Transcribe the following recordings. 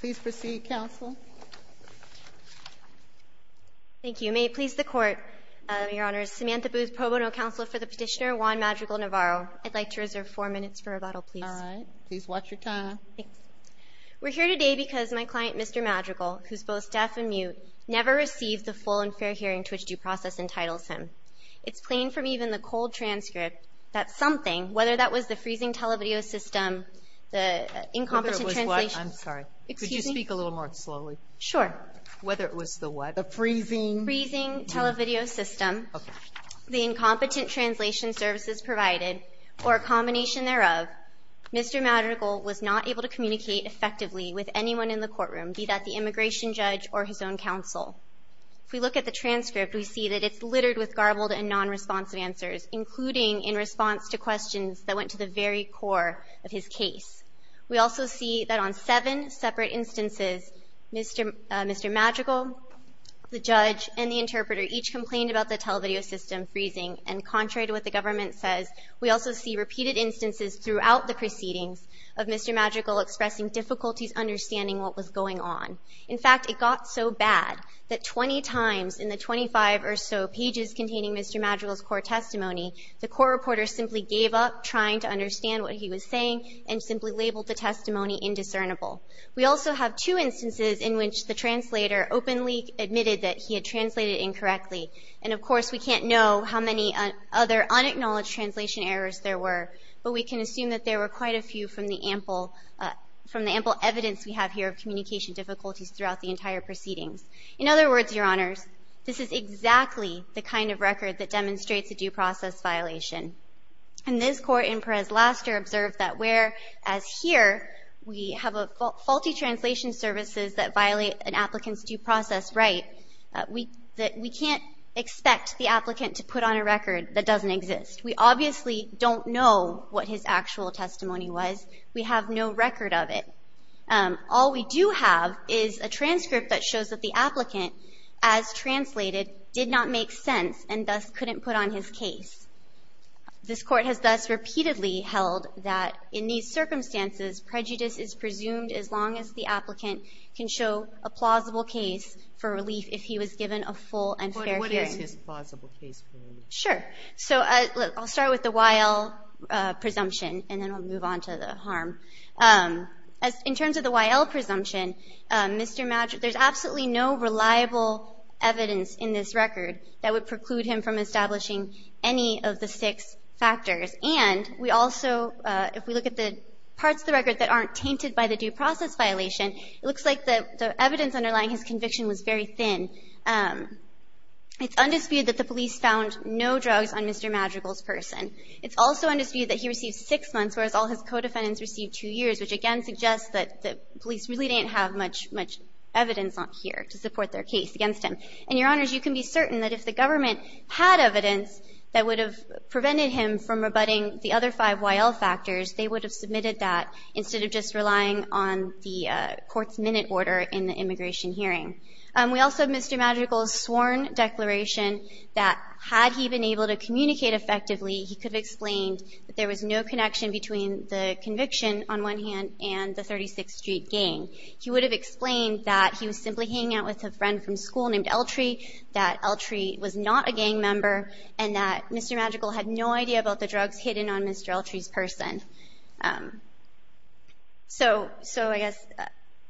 Please proceed, Counsel. Thank you. May it please the Court, Your Honor, Samantha Booth, pro bono counsel for the petitioner Juan Madrigal Navarro. I'd like to reserve four minutes for rebuttal, please. All right. Please watch your time. We're here today because my client, Mr. Madrigal, who's both deaf and mute, never received the full and fair hearing to which due process entitles him. It's plain from even the cold transcript that something, whether that was the freezing televideo system, the incompetent translation service provided, or a combination thereof, Mr. Madrigal was not able to communicate effectively with anyone in the courtroom, be that the immigration judge or his own counsel. If we look at the transcript, we see that it's littered with garbled and nonresponsive answers, including in response to questions that went to the very core of his case. We also see that on seven separate instances, Mr. Madrigal, the judge, and the interpreter each complained about the televideo system freezing, and contrary to what the government says, we also see repeated instances throughout the proceedings of Mr. Madrigal expressing difficulties understanding what was going on. In fact, it got so bad that 20 times in the 25 or so pages containing Mr. Madrigal's court testimony, the court reporter simply gave up trying to understand what he was saying and simply labeled the testimony indiscernible. We also have two instances in which the translator openly admitted that he had translated incorrectly. And, of course, we can't know how many other unacknowledged translation errors there were, but we can assume that there were quite a few from the ample – from the ample evidence we have here of communication difficulties throughout the entire proceedings. In other words, Your Honors, this is exactly the kind of record that demonstrates a due process violation. And this court in Perez-Laster observed that where, as here, we have a – faulty translation services that violate an applicant's due process right, we – that we can't expect the applicant to put on a record that doesn't exist. We obviously don't know what his actual testimony was. We have no record of it. All we do have is a transcript that shows that the applicant, as translated, did not make sense and thus couldn't put on his case. This court has thus repeatedly held that in these circumstances, prejudice is presumed as long as the applicant can show a plausible case for relief if he was given a full and fair hearing. But what is his plausible case for relief? Sure. So I'll start with the Y.L. presumption, and then I'll move on to the harm. As – in the Y.L. presumption, we have no reliable evidence in this record that would preclude him from establishing any of the six factors. And we also – if we look at the parts of the record that aren't tainted by the due process violation, it looks like the evidence underlying his conviction was very thin. It's undisputed that the police found no drugs on Mr. Madrigal's person. It's also undisputed that he received six months, whereas all his co-defendants received two years, which again suggests that the police really didn't have much, much evidence on here to support their case against him. And, Your Honors, you can be certain that if the government had evidence that would have prevented him from rebutting the other five Y.L. factors, they would have submitted that instead of just relying on the court's minute order in the immigration hearing. We also have Mr. Madrigal's sworn declaration that had he been able to communicate effectively, he could have explained that there was no connection between the conviction on one hand and the 36th Street gang. He would have explained that he was simply hanging out with a friend from school named Eltree, that Eltree was not a gang member, and that Mr. Madrigal had no idea about the drugs hidden on Mr. Eltree's person. So – so I guess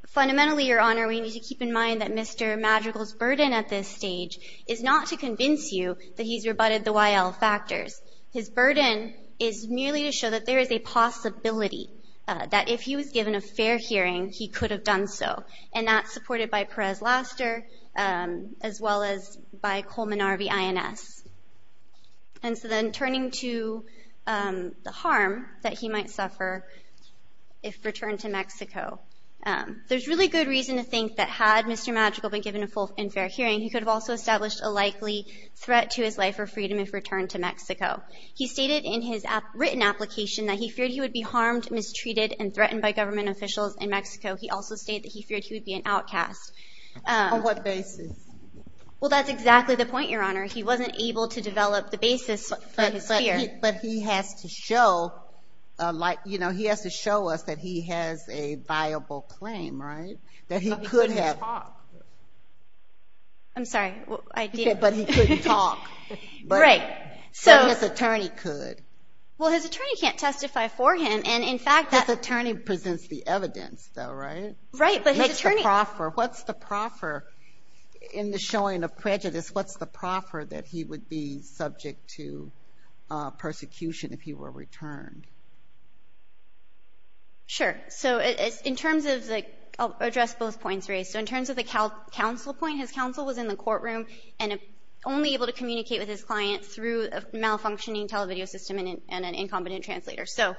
fundamentally, Your Honor, we need to keep in mind that Mr. Madrigal's burden at this stage is not to convince you that he's rebutted the Y.L. factors. His burden is merely to show that there is a possibility that if he was given a fair hearing, he could have done so. And that's supported by Perez-Laster, as well as by Coleman-Arvey INS. And so then turning to the harm that he might suffer if returned to Mexico, there's really good reason to think that had Mr. Madrigal been given a full and fair hearing, he could have also established a likely threat to his life or freedom if returned to Mexico. He stated in his written application that he feared he would be harmed, mistreated, and threatened by government officials in Mexico. He also stated that he feared he would be an outcast. On what basis? Well, that's exactly the point, Your Honor. He wasn't able to develop the basis for his fear. But he has to show, like, you know, he has to show us that he has a viable claim, right? That he could have – But he couldn't talk. I'm sorry. I didn't – But he couldn't talk. Right. So – But his attorney could. Well, his attorney can't testify for him. And, in fact, that – His attorney presents the evidence, though, right? Right. But his attorney – Makes the proffer. What's the proffer? In the showing of prejudice, what's the proffer that he would be subject to persecution if he were returned? Sure. So in terms of the – I'll address both points, Ray. So in terms of the counsel point, his counsel was in the courtroom and only able to communicate with his client through a malfunctioning television system and an incompetent translator. So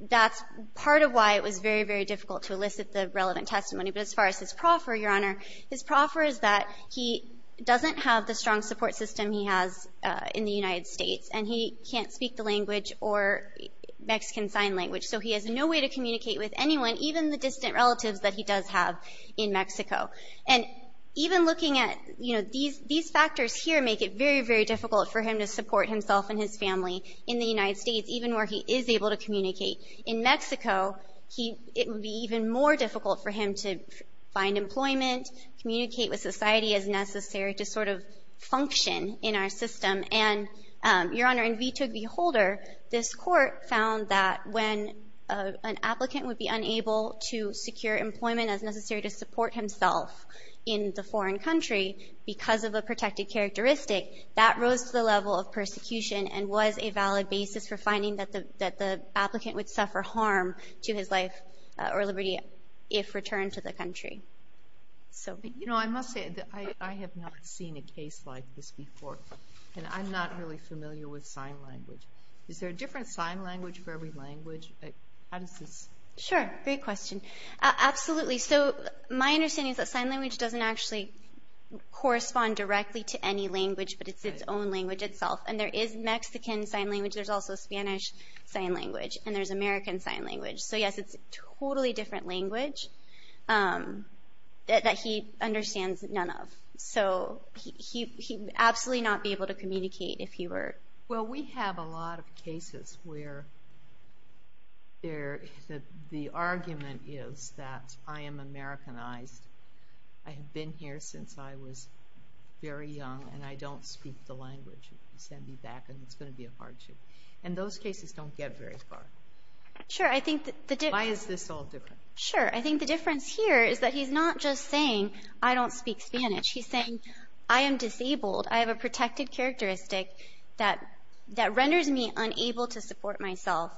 that's part of why it was very, very difficult to elicit the relevant testimony. But as far as his proffer, Your Honor, his proffer is that he doesn't have the strong support system he has in the United States, and he can't speak the language or Mexican Sign Language. So he has no way to communicate with anyone, even the distant relatives that he does have in Mexico. And even looking at – you know, these factors here make it very, very difficult for him to support himself and his family in the United States, even where he is able to communicate. In Mexico, he – it would be even more difficult for him to find employment, communicate with society as necessary to sort of function in our system. And, Your Honor, in vetoed beholder, this Court found that when an applicant would be unable to secure employment as necessary to support himself in the foreign country because of a protected characteristic, that rose to the level of persecution and was a valid basis for finding that the applicant would suffer harm to his life or liberty if returned to the country. So – But, you know, I must say that I have not seen a case like this before, and I'm not really familiar with sign language. Is there a different sign language for every language? How does this – Sure. Great question. Absolutely. So my understanding is that sign language doesn't actually correspond directly to any language, but it's its own language itself. And there is Mexican Sign Language. There's also Spanish Sign Language. And there's American Sign Language. So, yes, it's a totally different language that he understands none of. So he would absolutely not be able to communicate if he were – Well, we have a lot of cases where there – the argument is that I am Americanized. I have been here since I was very young, and I don't speak the language. You can send me back, and it's going to be a hardship. And those cases don't get very far. Sure. I think that the – Why is this all different? Sure. I think the difference here is that he's not just saying, I don't speak Spanish. He's saying, I am disabled. I have a protected characteristic that renders me unable to support myself.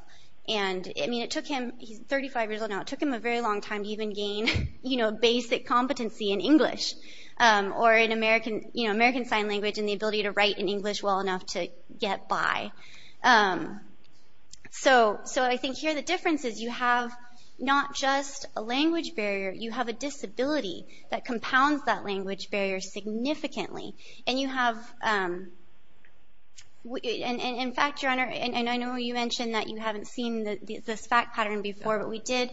And, I mean, it took him – he's 35 years old now. It took him a very long time to even gain, you know, basic competency in English or in American – you know, American Sign Language and the ability to write in English well enough to get by. So I think here the difference is you have not just a language barrier. You have a disability that compounds that language barrier significantly. And you have – and, in fact, Your Honor, and I know you mentioned that you haven't seen this fact pattern before, but we did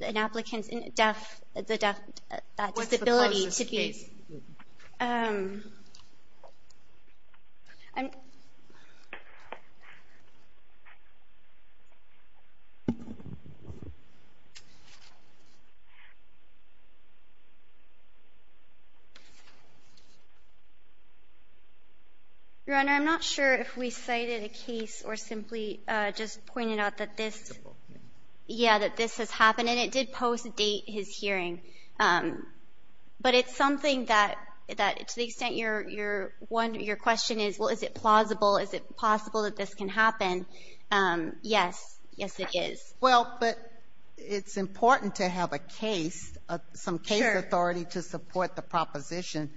an applicant's deaf – that disability to be – What's the cause of the case? Your Honor, I'm not sure if we cited a case or simply just pointed out that this – Well, but it's important to have a case, some case authority to support the proposition.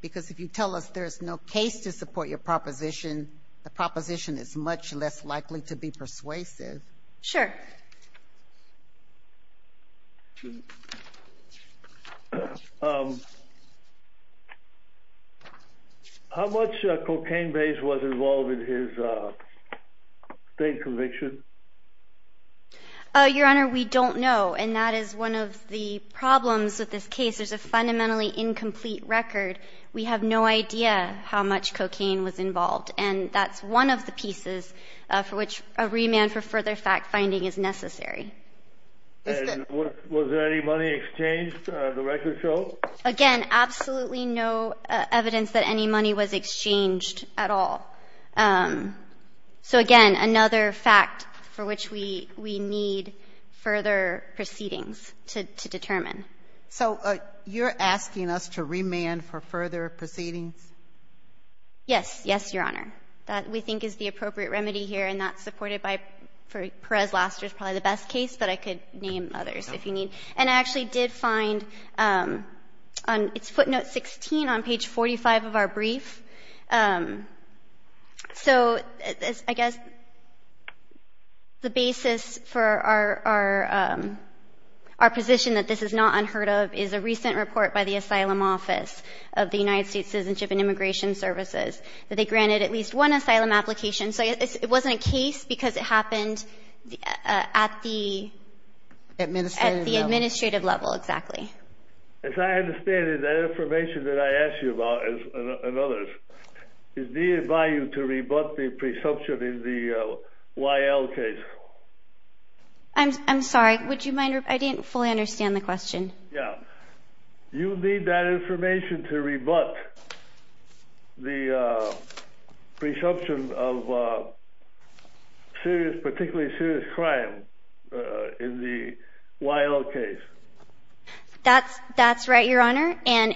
Because if you tell us there's no case to support your proposition, the proposition is much less likely to be persuasive. Sure. How much cocaine base was involved in his state conviction? Your Honor, we don't know. And that is one of the problems with this case. There's a fundamentally incomplete record. We have no idea how much cocaine was involved. And that's one of the pieces for which a remand for further fact-finding is necessary. And was there any money exchanged at the record show? Again, absolutely no evidence that any money was exchanged at all. So again, another fact for which we need further proceedings to determine. So you're asking us to remand for further proceedings? Yes. Yes, Your Honor. That we think is the appropriate remedy here, and that's supported by – for Perez-Laster is probably the best case, but I could name others if you need. And I actually did find – it's footnote 16 on page 45 of our brief. So I guess the basis for our position that this is not unheard of is a recent report by the Asylum Office of the United States Citizenship and Immigration Services that they granted at least one asylum application. So it wasn't a case because it happened at the administrative level, exactly. As I understand it, that information that I asked you about, and others, is needed by you to rebut the presumption in the Y.L. case? I'm sorry. Would you mind – I didn't fully understand the question. Yeah. You need that information to rebut the presumption of serious – particularly serious crime in the Y.L. case. That's – that's right, Your Honor. And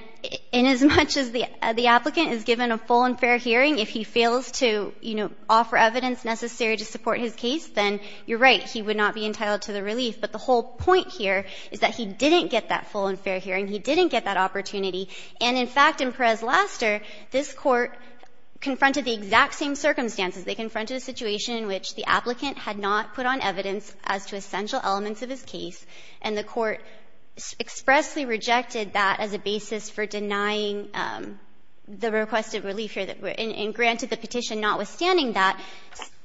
in as much as the applicant is given a full and fair hearing, if he fails to, you know, offer evidence necessary to support his case, then you're right. He would not be entitled to the relief. But the whole point here is that he didn't get that full and fair hearing. He didn't get that opportunity. And in fact, in Perez-Laster, this Court confronted the exact same circumstances. They confronted a situation in which the applicant had not put on evidence as to essential elements of his case, and the Court expressly rejected that as a basis for denying the requested relief here, and granted the petition notwithstanding that,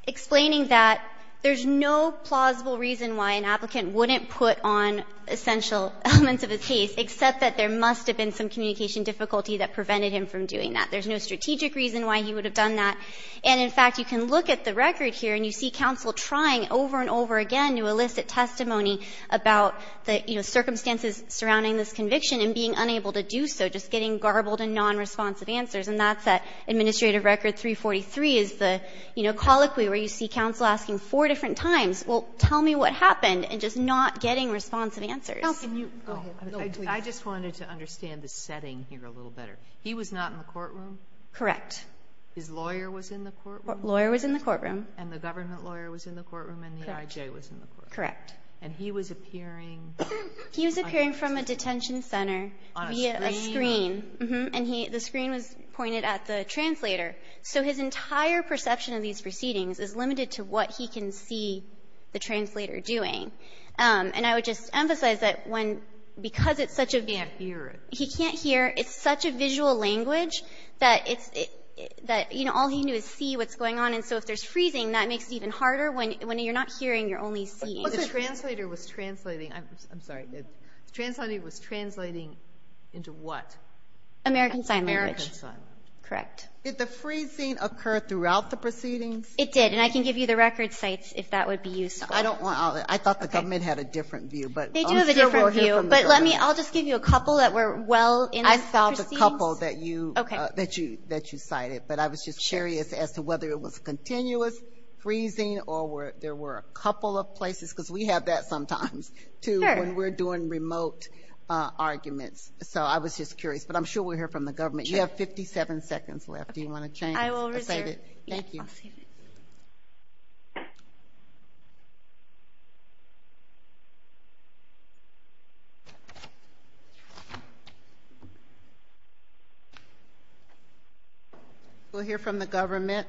explaining that there's no plausible reason why an applicant wouldn't put on essential elements of his case, except that there must have been some communication difficulty that prevented him from doing that. There's no strategic reason why he would have done that. And in fact, you can look at the record here, and you see counsel trying over and over again to elicit testimony about the, you know, circumstances surrounding this conviction and being unable to do so, just getting garbled and nonresponsive answers. And that's at Administrative Record 343 is the, you know, colloquy where you see different times, well, tell me what happened, and just not getting responsive answers. Sotomayor, I just wanted to understand the setting here a little better. He was not in the courtroom? Correct. His lawyer was in the courtroom? Lawyer was in the courtroom. And the government lawyer was in the courtroom, and the I.J. was in the courtroom? Correct. And he was appearing? He was appearing from a detention center via a screen. On a screen? Uh-huh. And he the screen was pointed at the translator. So his entire perception of these proceedings is limited to what he can see the translator doing. And I would just emphasize that when, because it's such a visual language, that it's, you know, all he can do is see what's going on. And so if there's freezing, that makes it even harder. When you're not hearing, you're only seeing. The translator was translating. I'm sorry. The translator was translating into what? American sign language. Correct. Did the freezing occur throughout the proceedings? It did. And I can give you the record sites if that would be useful. I don't want all that. I thought the government had a different view. But they do have a different view. But let me, I'll just give you a couple that were well in the proceedings. I found a couple that you that you that you cited. But I was just curious as to whether it was continuous freezing or where there were a couple of places. Because we have that sometimes, too, when we're doing remote arguments. So I was just curious. But I'm sure we'll hear from the government. You have 57 seconds left. Do you want to change? I will reserve. Thank you. We'll hear from the government.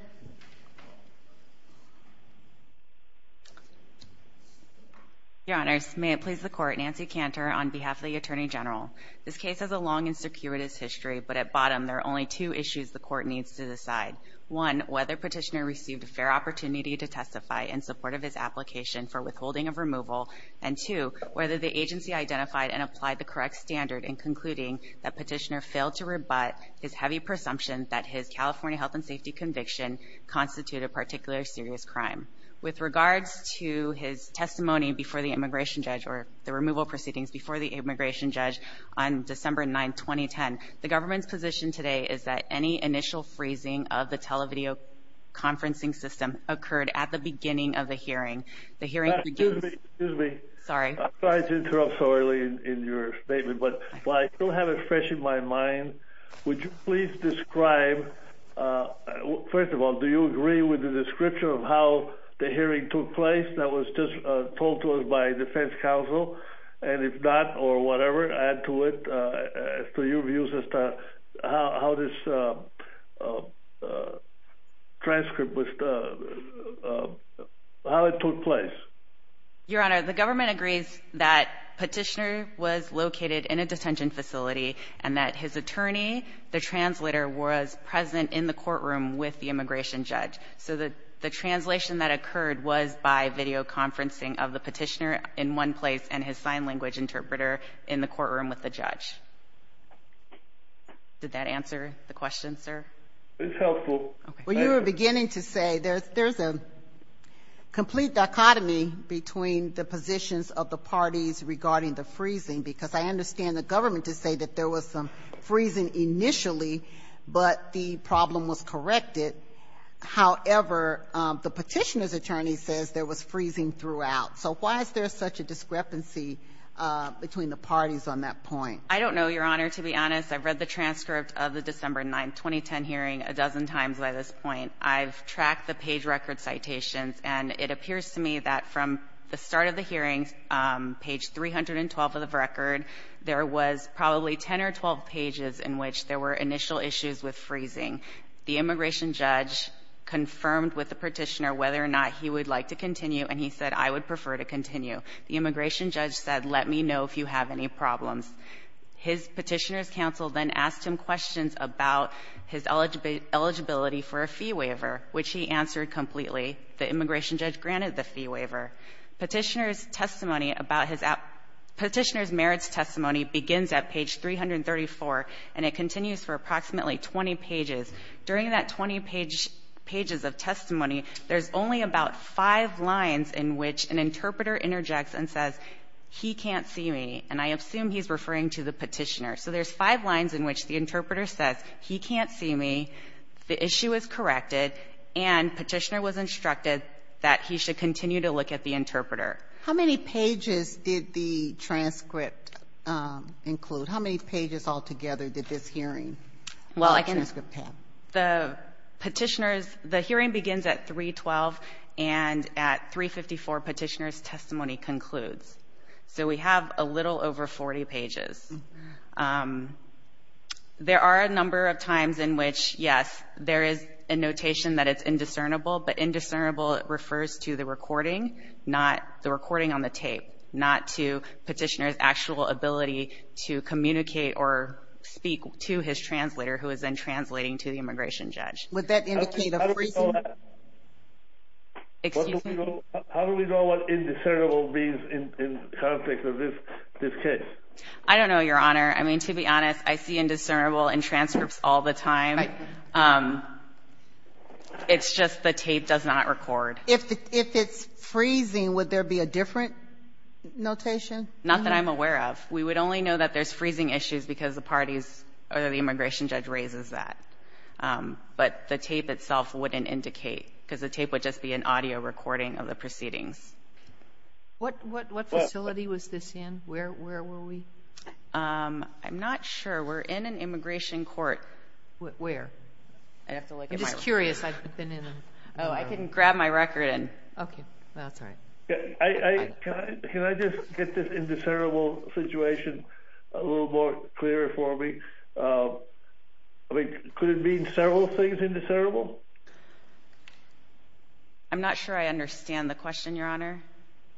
Your Honors, may it please the Court, Nancy Cantor on behalf of the Attorney General. This case has a long and circuitous history. But at bottom, there are only two issues the Court needs to decide. One, whether Petitioner received a fair opportunity to testify in support of his application for withholding of removal. And two, whether the agency identified and applied the correct standard in concluding that Petitioner failed to rebut his heavy presumption that his California health and safety conviction constituted a particularly serious crime. With regards to his testimony before the immigration judge, or the removal proceedings before the immigration judge on December 9, 2010, the government's position today is that any initial freezing of the televideo conferencing system occurred at the beginning of the hearing. The hearing begins- Excuse me. Sorry. I'm sorry to interrupt so early in your statement. But while I still have it fresh in my mind, would you please describe, first of all, do you agree with the description of how the hearing took place that was just told to us by defense counsel? And if not, or whatever, add to it as to your views as to how this transcript was- how it took place. Your Honor, the government agrees that Petitioner was located in a detention facility and that his attorney, the translator, was present in the courtroom with the immigration judge. So the translation that occurred was by videoconferencing of the Petitioner in one place and his sign language interpreter in the courtroom with the judge. Did that answer the question, sir? It's helpful. Well, you were beginning to say there's a complete dichotomy between the positions of the parties regarding the freezing, because I understand the government to say that there was some freezing initially, but the problem was corrected. However, the Petitioner's attorney says there was freezing throughout. So why is there such a discrepancy between the parties on that point? I don't know, Your Honor, to be honest. I've read the transcript of the December 9, 2010 hearing a dozen times by this point. I've tracked the page record citations, and it appears to me that from the start of the hearings, page 312 of the record, there was probably 10 or 12 pages in which there were initial issues with freezing. The immigration judge confirmed with the Petitioner whether or not he would like to continue, and he said, I would prefer to continue. The immigration judge said, let me know if you have any problems. His Petitioner's counsel then asked him questions about his eligibility for a fee waiver, which he answered completely. The immigration judge granted the fee waiver. Petitioner's testimony about his at — Petitioner's merits testimony begins at page 334, and it continues for approximately 20 pages. During that 20 pages of testimony, there's only about five lines in which an interpreter interjects and says, he can't see me, and I assume he's referring to the Petitioner. So there's five lines in which the interpreter says, he can't see me, the issue is corrected, and Petitioner was instructed that he should continue to look at the Interpreter. How many pages did the transcript include? How many pages altogether did this hearing transcript have? The Petitioner's — the hearing begins at 312, and at 354, Petitioner's testimony concludes. So we have a little over 40 pages. There are a number of times in which, yes, there is a notation that it's indiscernible, but indiscernible refers to the recording, not the recording on the tape, not to Petitioner's actual ability to communicate or speak to his translator, who is then translating to the Immigration Judge. Would that indicate a freezing? Excuse me? How do we know what indiscernible means in context of this case? I don't know, Your Honor. I mean, to be honest, I see indiscernible in transcripts all the time. It's just the tape does not record. If it's freezing, would there be a different notation? Not that I'm aware of. We would only know that there's freezing issues because the parties or the Immigration Judge raises that. But the tape itself wouldn't indicate because the tape would just be an audio recording of the proceedings. What facility was this in? Where were we? I'm not sure. We're in an immigration court. Where? I'm just curious. I've been in a — Oh, I can grab my record and — Okay. That's all right. Can I just get this indiscernible situation a little more clearer for me? I mean, could it mean several things indiscernible? I'm not sure I understand the question, Your Honor.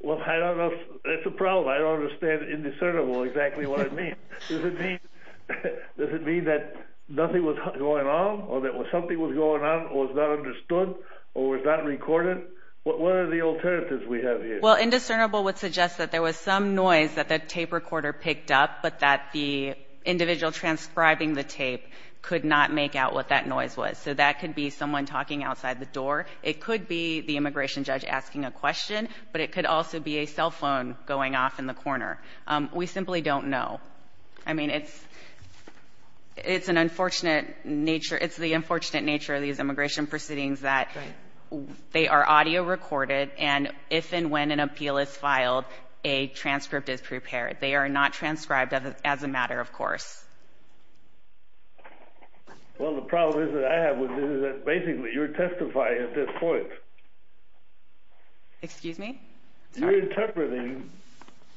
Well, I don't know. That's the problem. I don't understand indiscernible exactly what it means. Does it mean that nothing was going on or that something was going on or was not understood or was not recorded? What are the alternatives we have here? Well, indiscernible would suggest that there was some noise that the tape recorder picked up, but that the individual transcribing the tape could not make out what that noise was. So that could be someone talking outside the door. It could be the Immigration Judge asking a question, but it could also be a cell phone going off in the corner. We simply don't know. I mean, it's an unfortunate nature. It's the unfortunate nature of these immigration proceedings that they are audio recorded, and if and when an appeal is filed, a transcript is prepared. They are not transcribed as a matter of course. Well, the problem is that I have with this is that basically you're testifying at this point. Excuse me? You're interpreting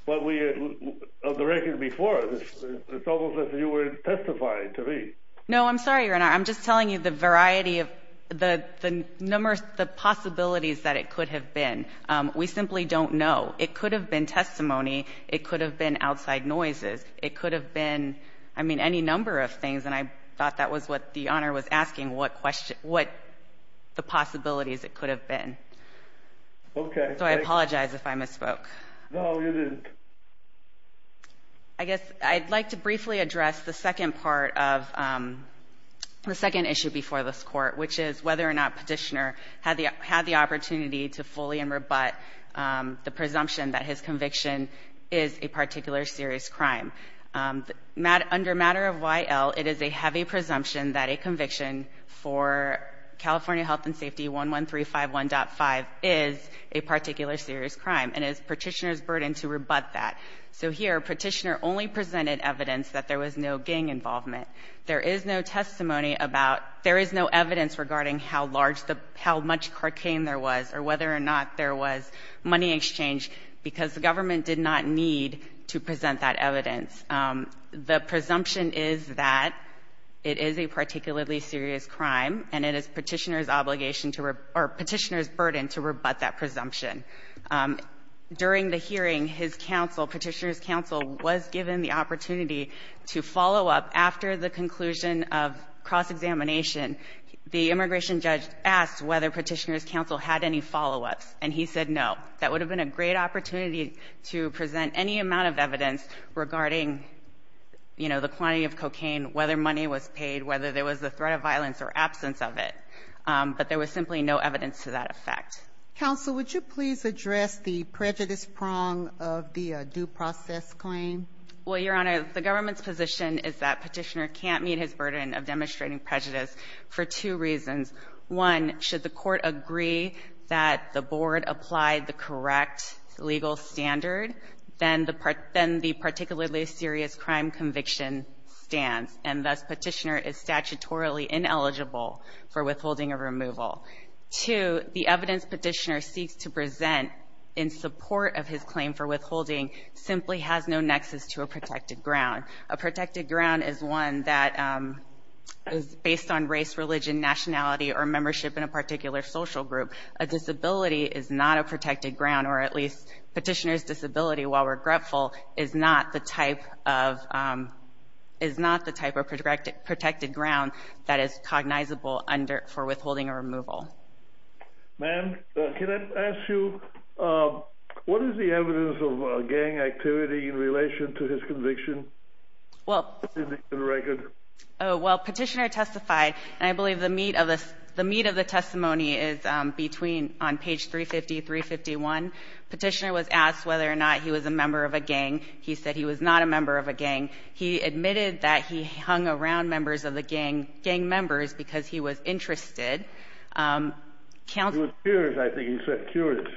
of the record before. It's almost as if you were testifying to me. No, I'm sorry, Your Honor. I'm just telling you the variety of the possibilities that it could have been. We simply don't know. It could have been testimony. It could have been outside noises. It could have been, I mean, any number of things, and I thought that was what the Honor was asking, what the possibilities it could have been. Okay. So I apologize if I misspoke. No, you didn't. I guess I'd like to briefly address the second part of the second issue before this court, which is whether or not Petitioner had the opportunity to fully and rebut the presumption that his conviction is a particular serious crime. Under matter of Y.L., it is a heavy presumption that a conviction for California Health and Safety 11351.5 is a particular serious crime, and it is Petitioner's burden to rebut that. So here, Petitioner only presented evidence that there was no gang involvement. There is no testimony about, there is no evidence regarding how large the, how much carcane there was or whether or not there was money exchange because the government did not need to present that evidence. The presumption is that it is a particularly serious crime, and it is Petitioner's obligation to, or Petitioner's burden to rebut that presumption. During the hearing, his counsel, Petitioner's counsel, was given the opportunity to follow up after the conclusion of cross-examination. The immigration judge asked whether Petitioner's counsel had any follow-ups, and he said no. That would have been a great opportunity to present any amount of evidence regarding, you know, the quantity of cocaine, whether money was paid, whether there was the threat of violence or absence of it. But there was simply no evidence to that effect. Sotomayor, would you please address the prejudice prong of the due process claim? Well, Your Honor, the government's position is that Petitioner can't meet his burden of demonstrating prejudice for two reasons. One, should the court agree that the board applied the correct legal standard, then the particularly serious crime conviction stands, and thus Petitioner is statutorily ineligible for withholding a removal. Two, the evidence Petitioner seeks to present in support of his claim for withholding simply has no nexus to a protected ground. A protected ground is one that is based on race, religion, nationality, or membership in a particular social group. A disability is not a protected ground, or at least Petitioner's disability, while regretful, is not the type of protected ground that is cognizable for withholding a removal. Ma'am, can I ask you, what is the evidence of gang activity in relation to his conviction? Well, Petitioner testified, and I believe the meat of the testimony is between on page 350-351. Petitioner was asked whether or not he was a member of a gang. He said he was not a member of a gang. He admitted that he hung around members of the gang, gang members, because he was interested. He was curious, I think he said, curious.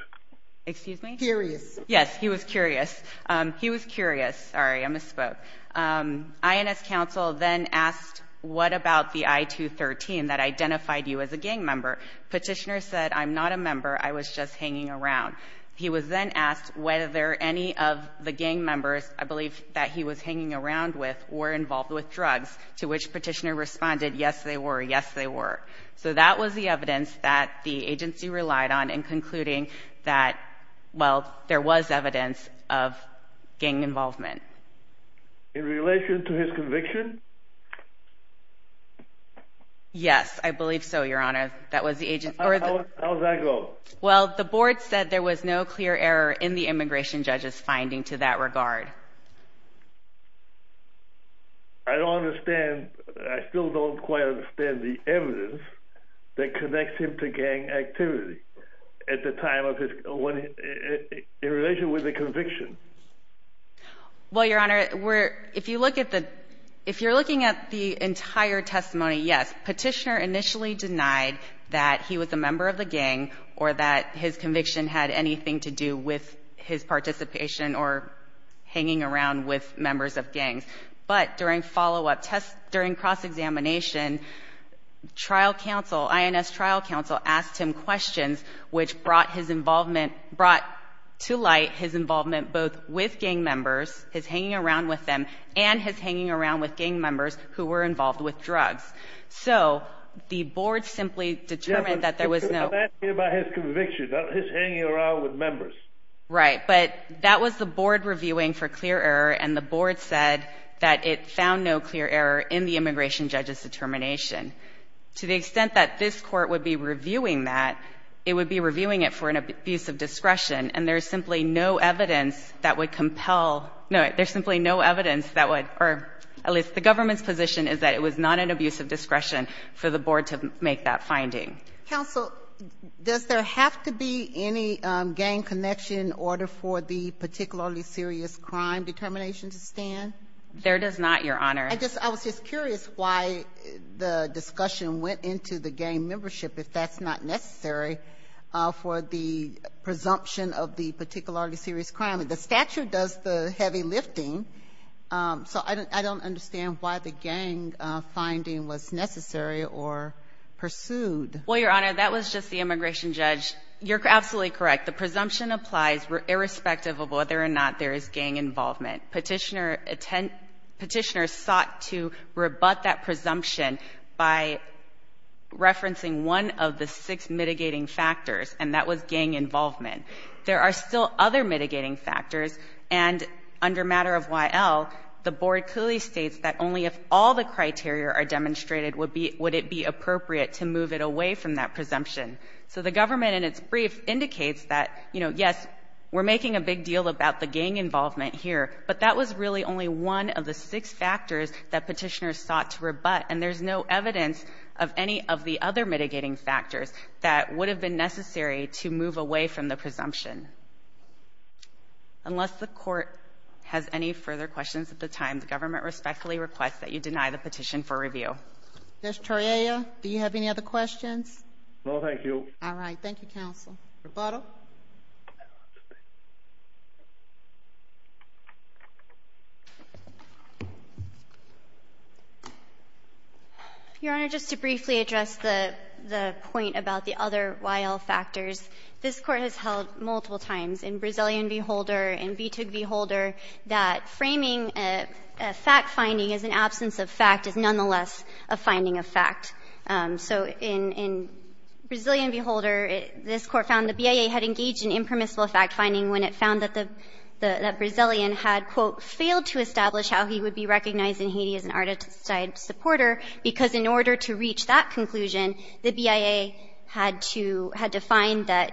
Excuse me? Curious. Yes, he was curious. He was curious. Sorry, I misspoke. INS counsel then asked, what about the I-213 that identified you as a gang member? Petitioner said, I'm not a member. I was just hanging around. He was then asked whether any of the gang members, I believe, that he was hanging around with were involved with drugs, to which Petitioner responded, yes, they were, yes, they were. So that was the evidence that the agency relied on in concluding that, well, there was evidence of gang involvement. In relation to his conviction? Yes, I believe so, Your Honor. That was the agency. How does that go? Well, the board said there was no clear error in the immigration judge's finding to that regard. I don't understand, I still don't quite understand the evidence that connects him to gang activity at the time of his, in relation with the conviction. Well, Your Honor, if you look at the, if you're looking at the entire testimony, yes, Petitioner initially denied that he was a member of the gang or that his conviction had anything to do with his participation or hanging around with members of gangs. But during follow-up tests, during cross-examination, trial counsel, INS trial counsel, asked him questions which brought his involvement, brought to light his involvement both with gang members, his hanging around with them, and his hanging around with gang members who were involved with drugs. So the board simply determined that there was no – I'm asking you about his conviction, not his hanging around with members. Right. But that was the board reviewing for clear error, and the board said that it found no clear error in the immigration judge's determination. To the extent that this Court would be reviewing that, it would be reviewing it for an abuse of discretion, and there's simply no evidence that would compel – no, there's simply no evidence that would – at least the government's position is that it was not an abuse of discretion for the board to make that finding. Counsel, does there have to be any gang connection in order for the particularly serious crime determination to stand? There does not, Your Honor. I just – I was just curious why the discussion went into the gang membership, if that's not necessary, for the presumption of the particularly serious crime. The statute does the heavy lifting, so I don't understand why the gang finding was necessary or pursued. Well, Your Honor, that was just the immigration judge. You're absolutely correct. The presumption applies irrespective of whether or not there is gang involvement. Petitioners sought to rebut that presumption by referencing one of the six mitigating factors, and that was gang involvement. There are still other mitigating factors, and under matter of Y.L., the board clearly states that only if all the criteria are demonstrated would it be appropriate to move it away from that presumption. So the government in its brief indicates that, you know, yes, we're making a big deal about the gang involvement here, but that was really only one of the six factors that petitioners sought to rebut, and there's no evidence of any of the other mitigating factors that would have been necessary to move away from the presumption. Unless the Court has any further questions at this time, the government respectfully requests that you deny the petition for review. Judge Toriaya, do you have any other questions? No, thank you. All right. Thank you, counsel. Roboto. Your Honor, just to briefly address the point about the other Y.L. factors. This Court has held multiple times in Brazilian v. Holder and VTUG v. Holder that framing a fact-finding as an absence of fact is nonetheless a finding of fact. So in Brazilian v. Holder, this Court found the BIA had engaged in impermissible fact-finding when it found that the Brazilian had, quote, failed to establish how he would be recognized in Haiti as an Arda-type supporter because in order to reach that conclusion, the BIA had to find that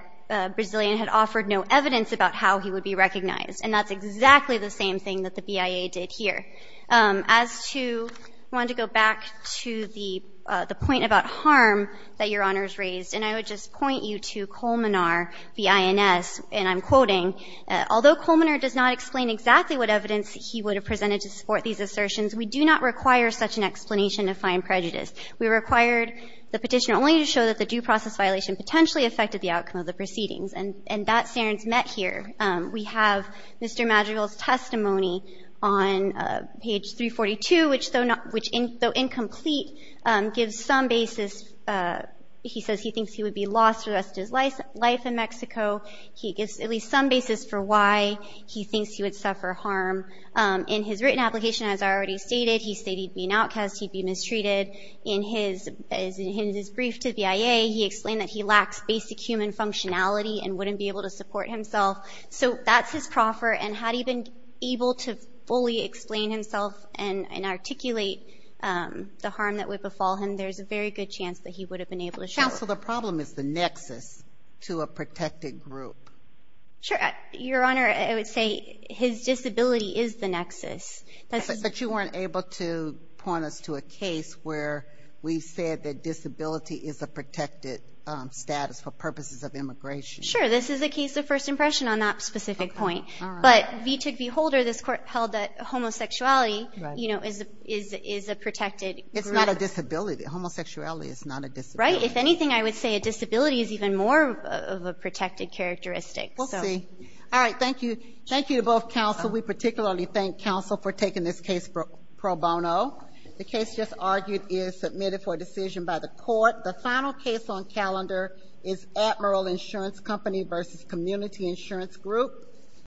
Brazilian had offered no evidence about how he would be recognized. And that's exactly the same thing that the BIA did here. As to go back to the point about harm that Your Honor has raised, and I would just point you to Colmenar v. INS, and I'm quoting, Although Colmenar does not explain exactly what evidence he would have presented to support these assertions, we do not require such an explanation of fine prejudice. We required the petitioner only to show that the due process violation potentially affected the outcome of the proceedings. And that stands met here. We have Mr. Madrigal's testimony on page 342, which, though incomplete, gives some basis. He says he thinks he would be lost for the rest of his life in Mexico. He gives at least some basis for why he thinks he would suffer harm. In his written application, as I already stated, he stated he'd be an outcast, he'd be mistreated. In his brief to the BIA, he explained that he lacks basic human functionality and wouldn't be able to support himself. So that's his proffer, and had he been able to fully explain himself and articulate the harm that would befall him, there's a very good chance that he would have been able to show it. Counsel, the problem is the nexus to a protected group. Sure. Your Honor, I would say his disability is the nexus. But you weren't able to point us to a case where we said that disability is a protected status for purposes of immigration. Sure. This is a case of first impression on that specific point. But, vi tic vi holder, this Court held that homosexuality, you know, is a protected group. It's not a disability. Homosexuality is not a disability. Right. If anything, I would say a disability is even more of a protected characteristic. We'll see. All right. Thank you. Thank you to both counsel. We particularly thank counsel for taking this case pro bono. The case just argued is submitted for decision by the Court. The final case on calendar is Admiral Insurance Company versus Community Insurance Group.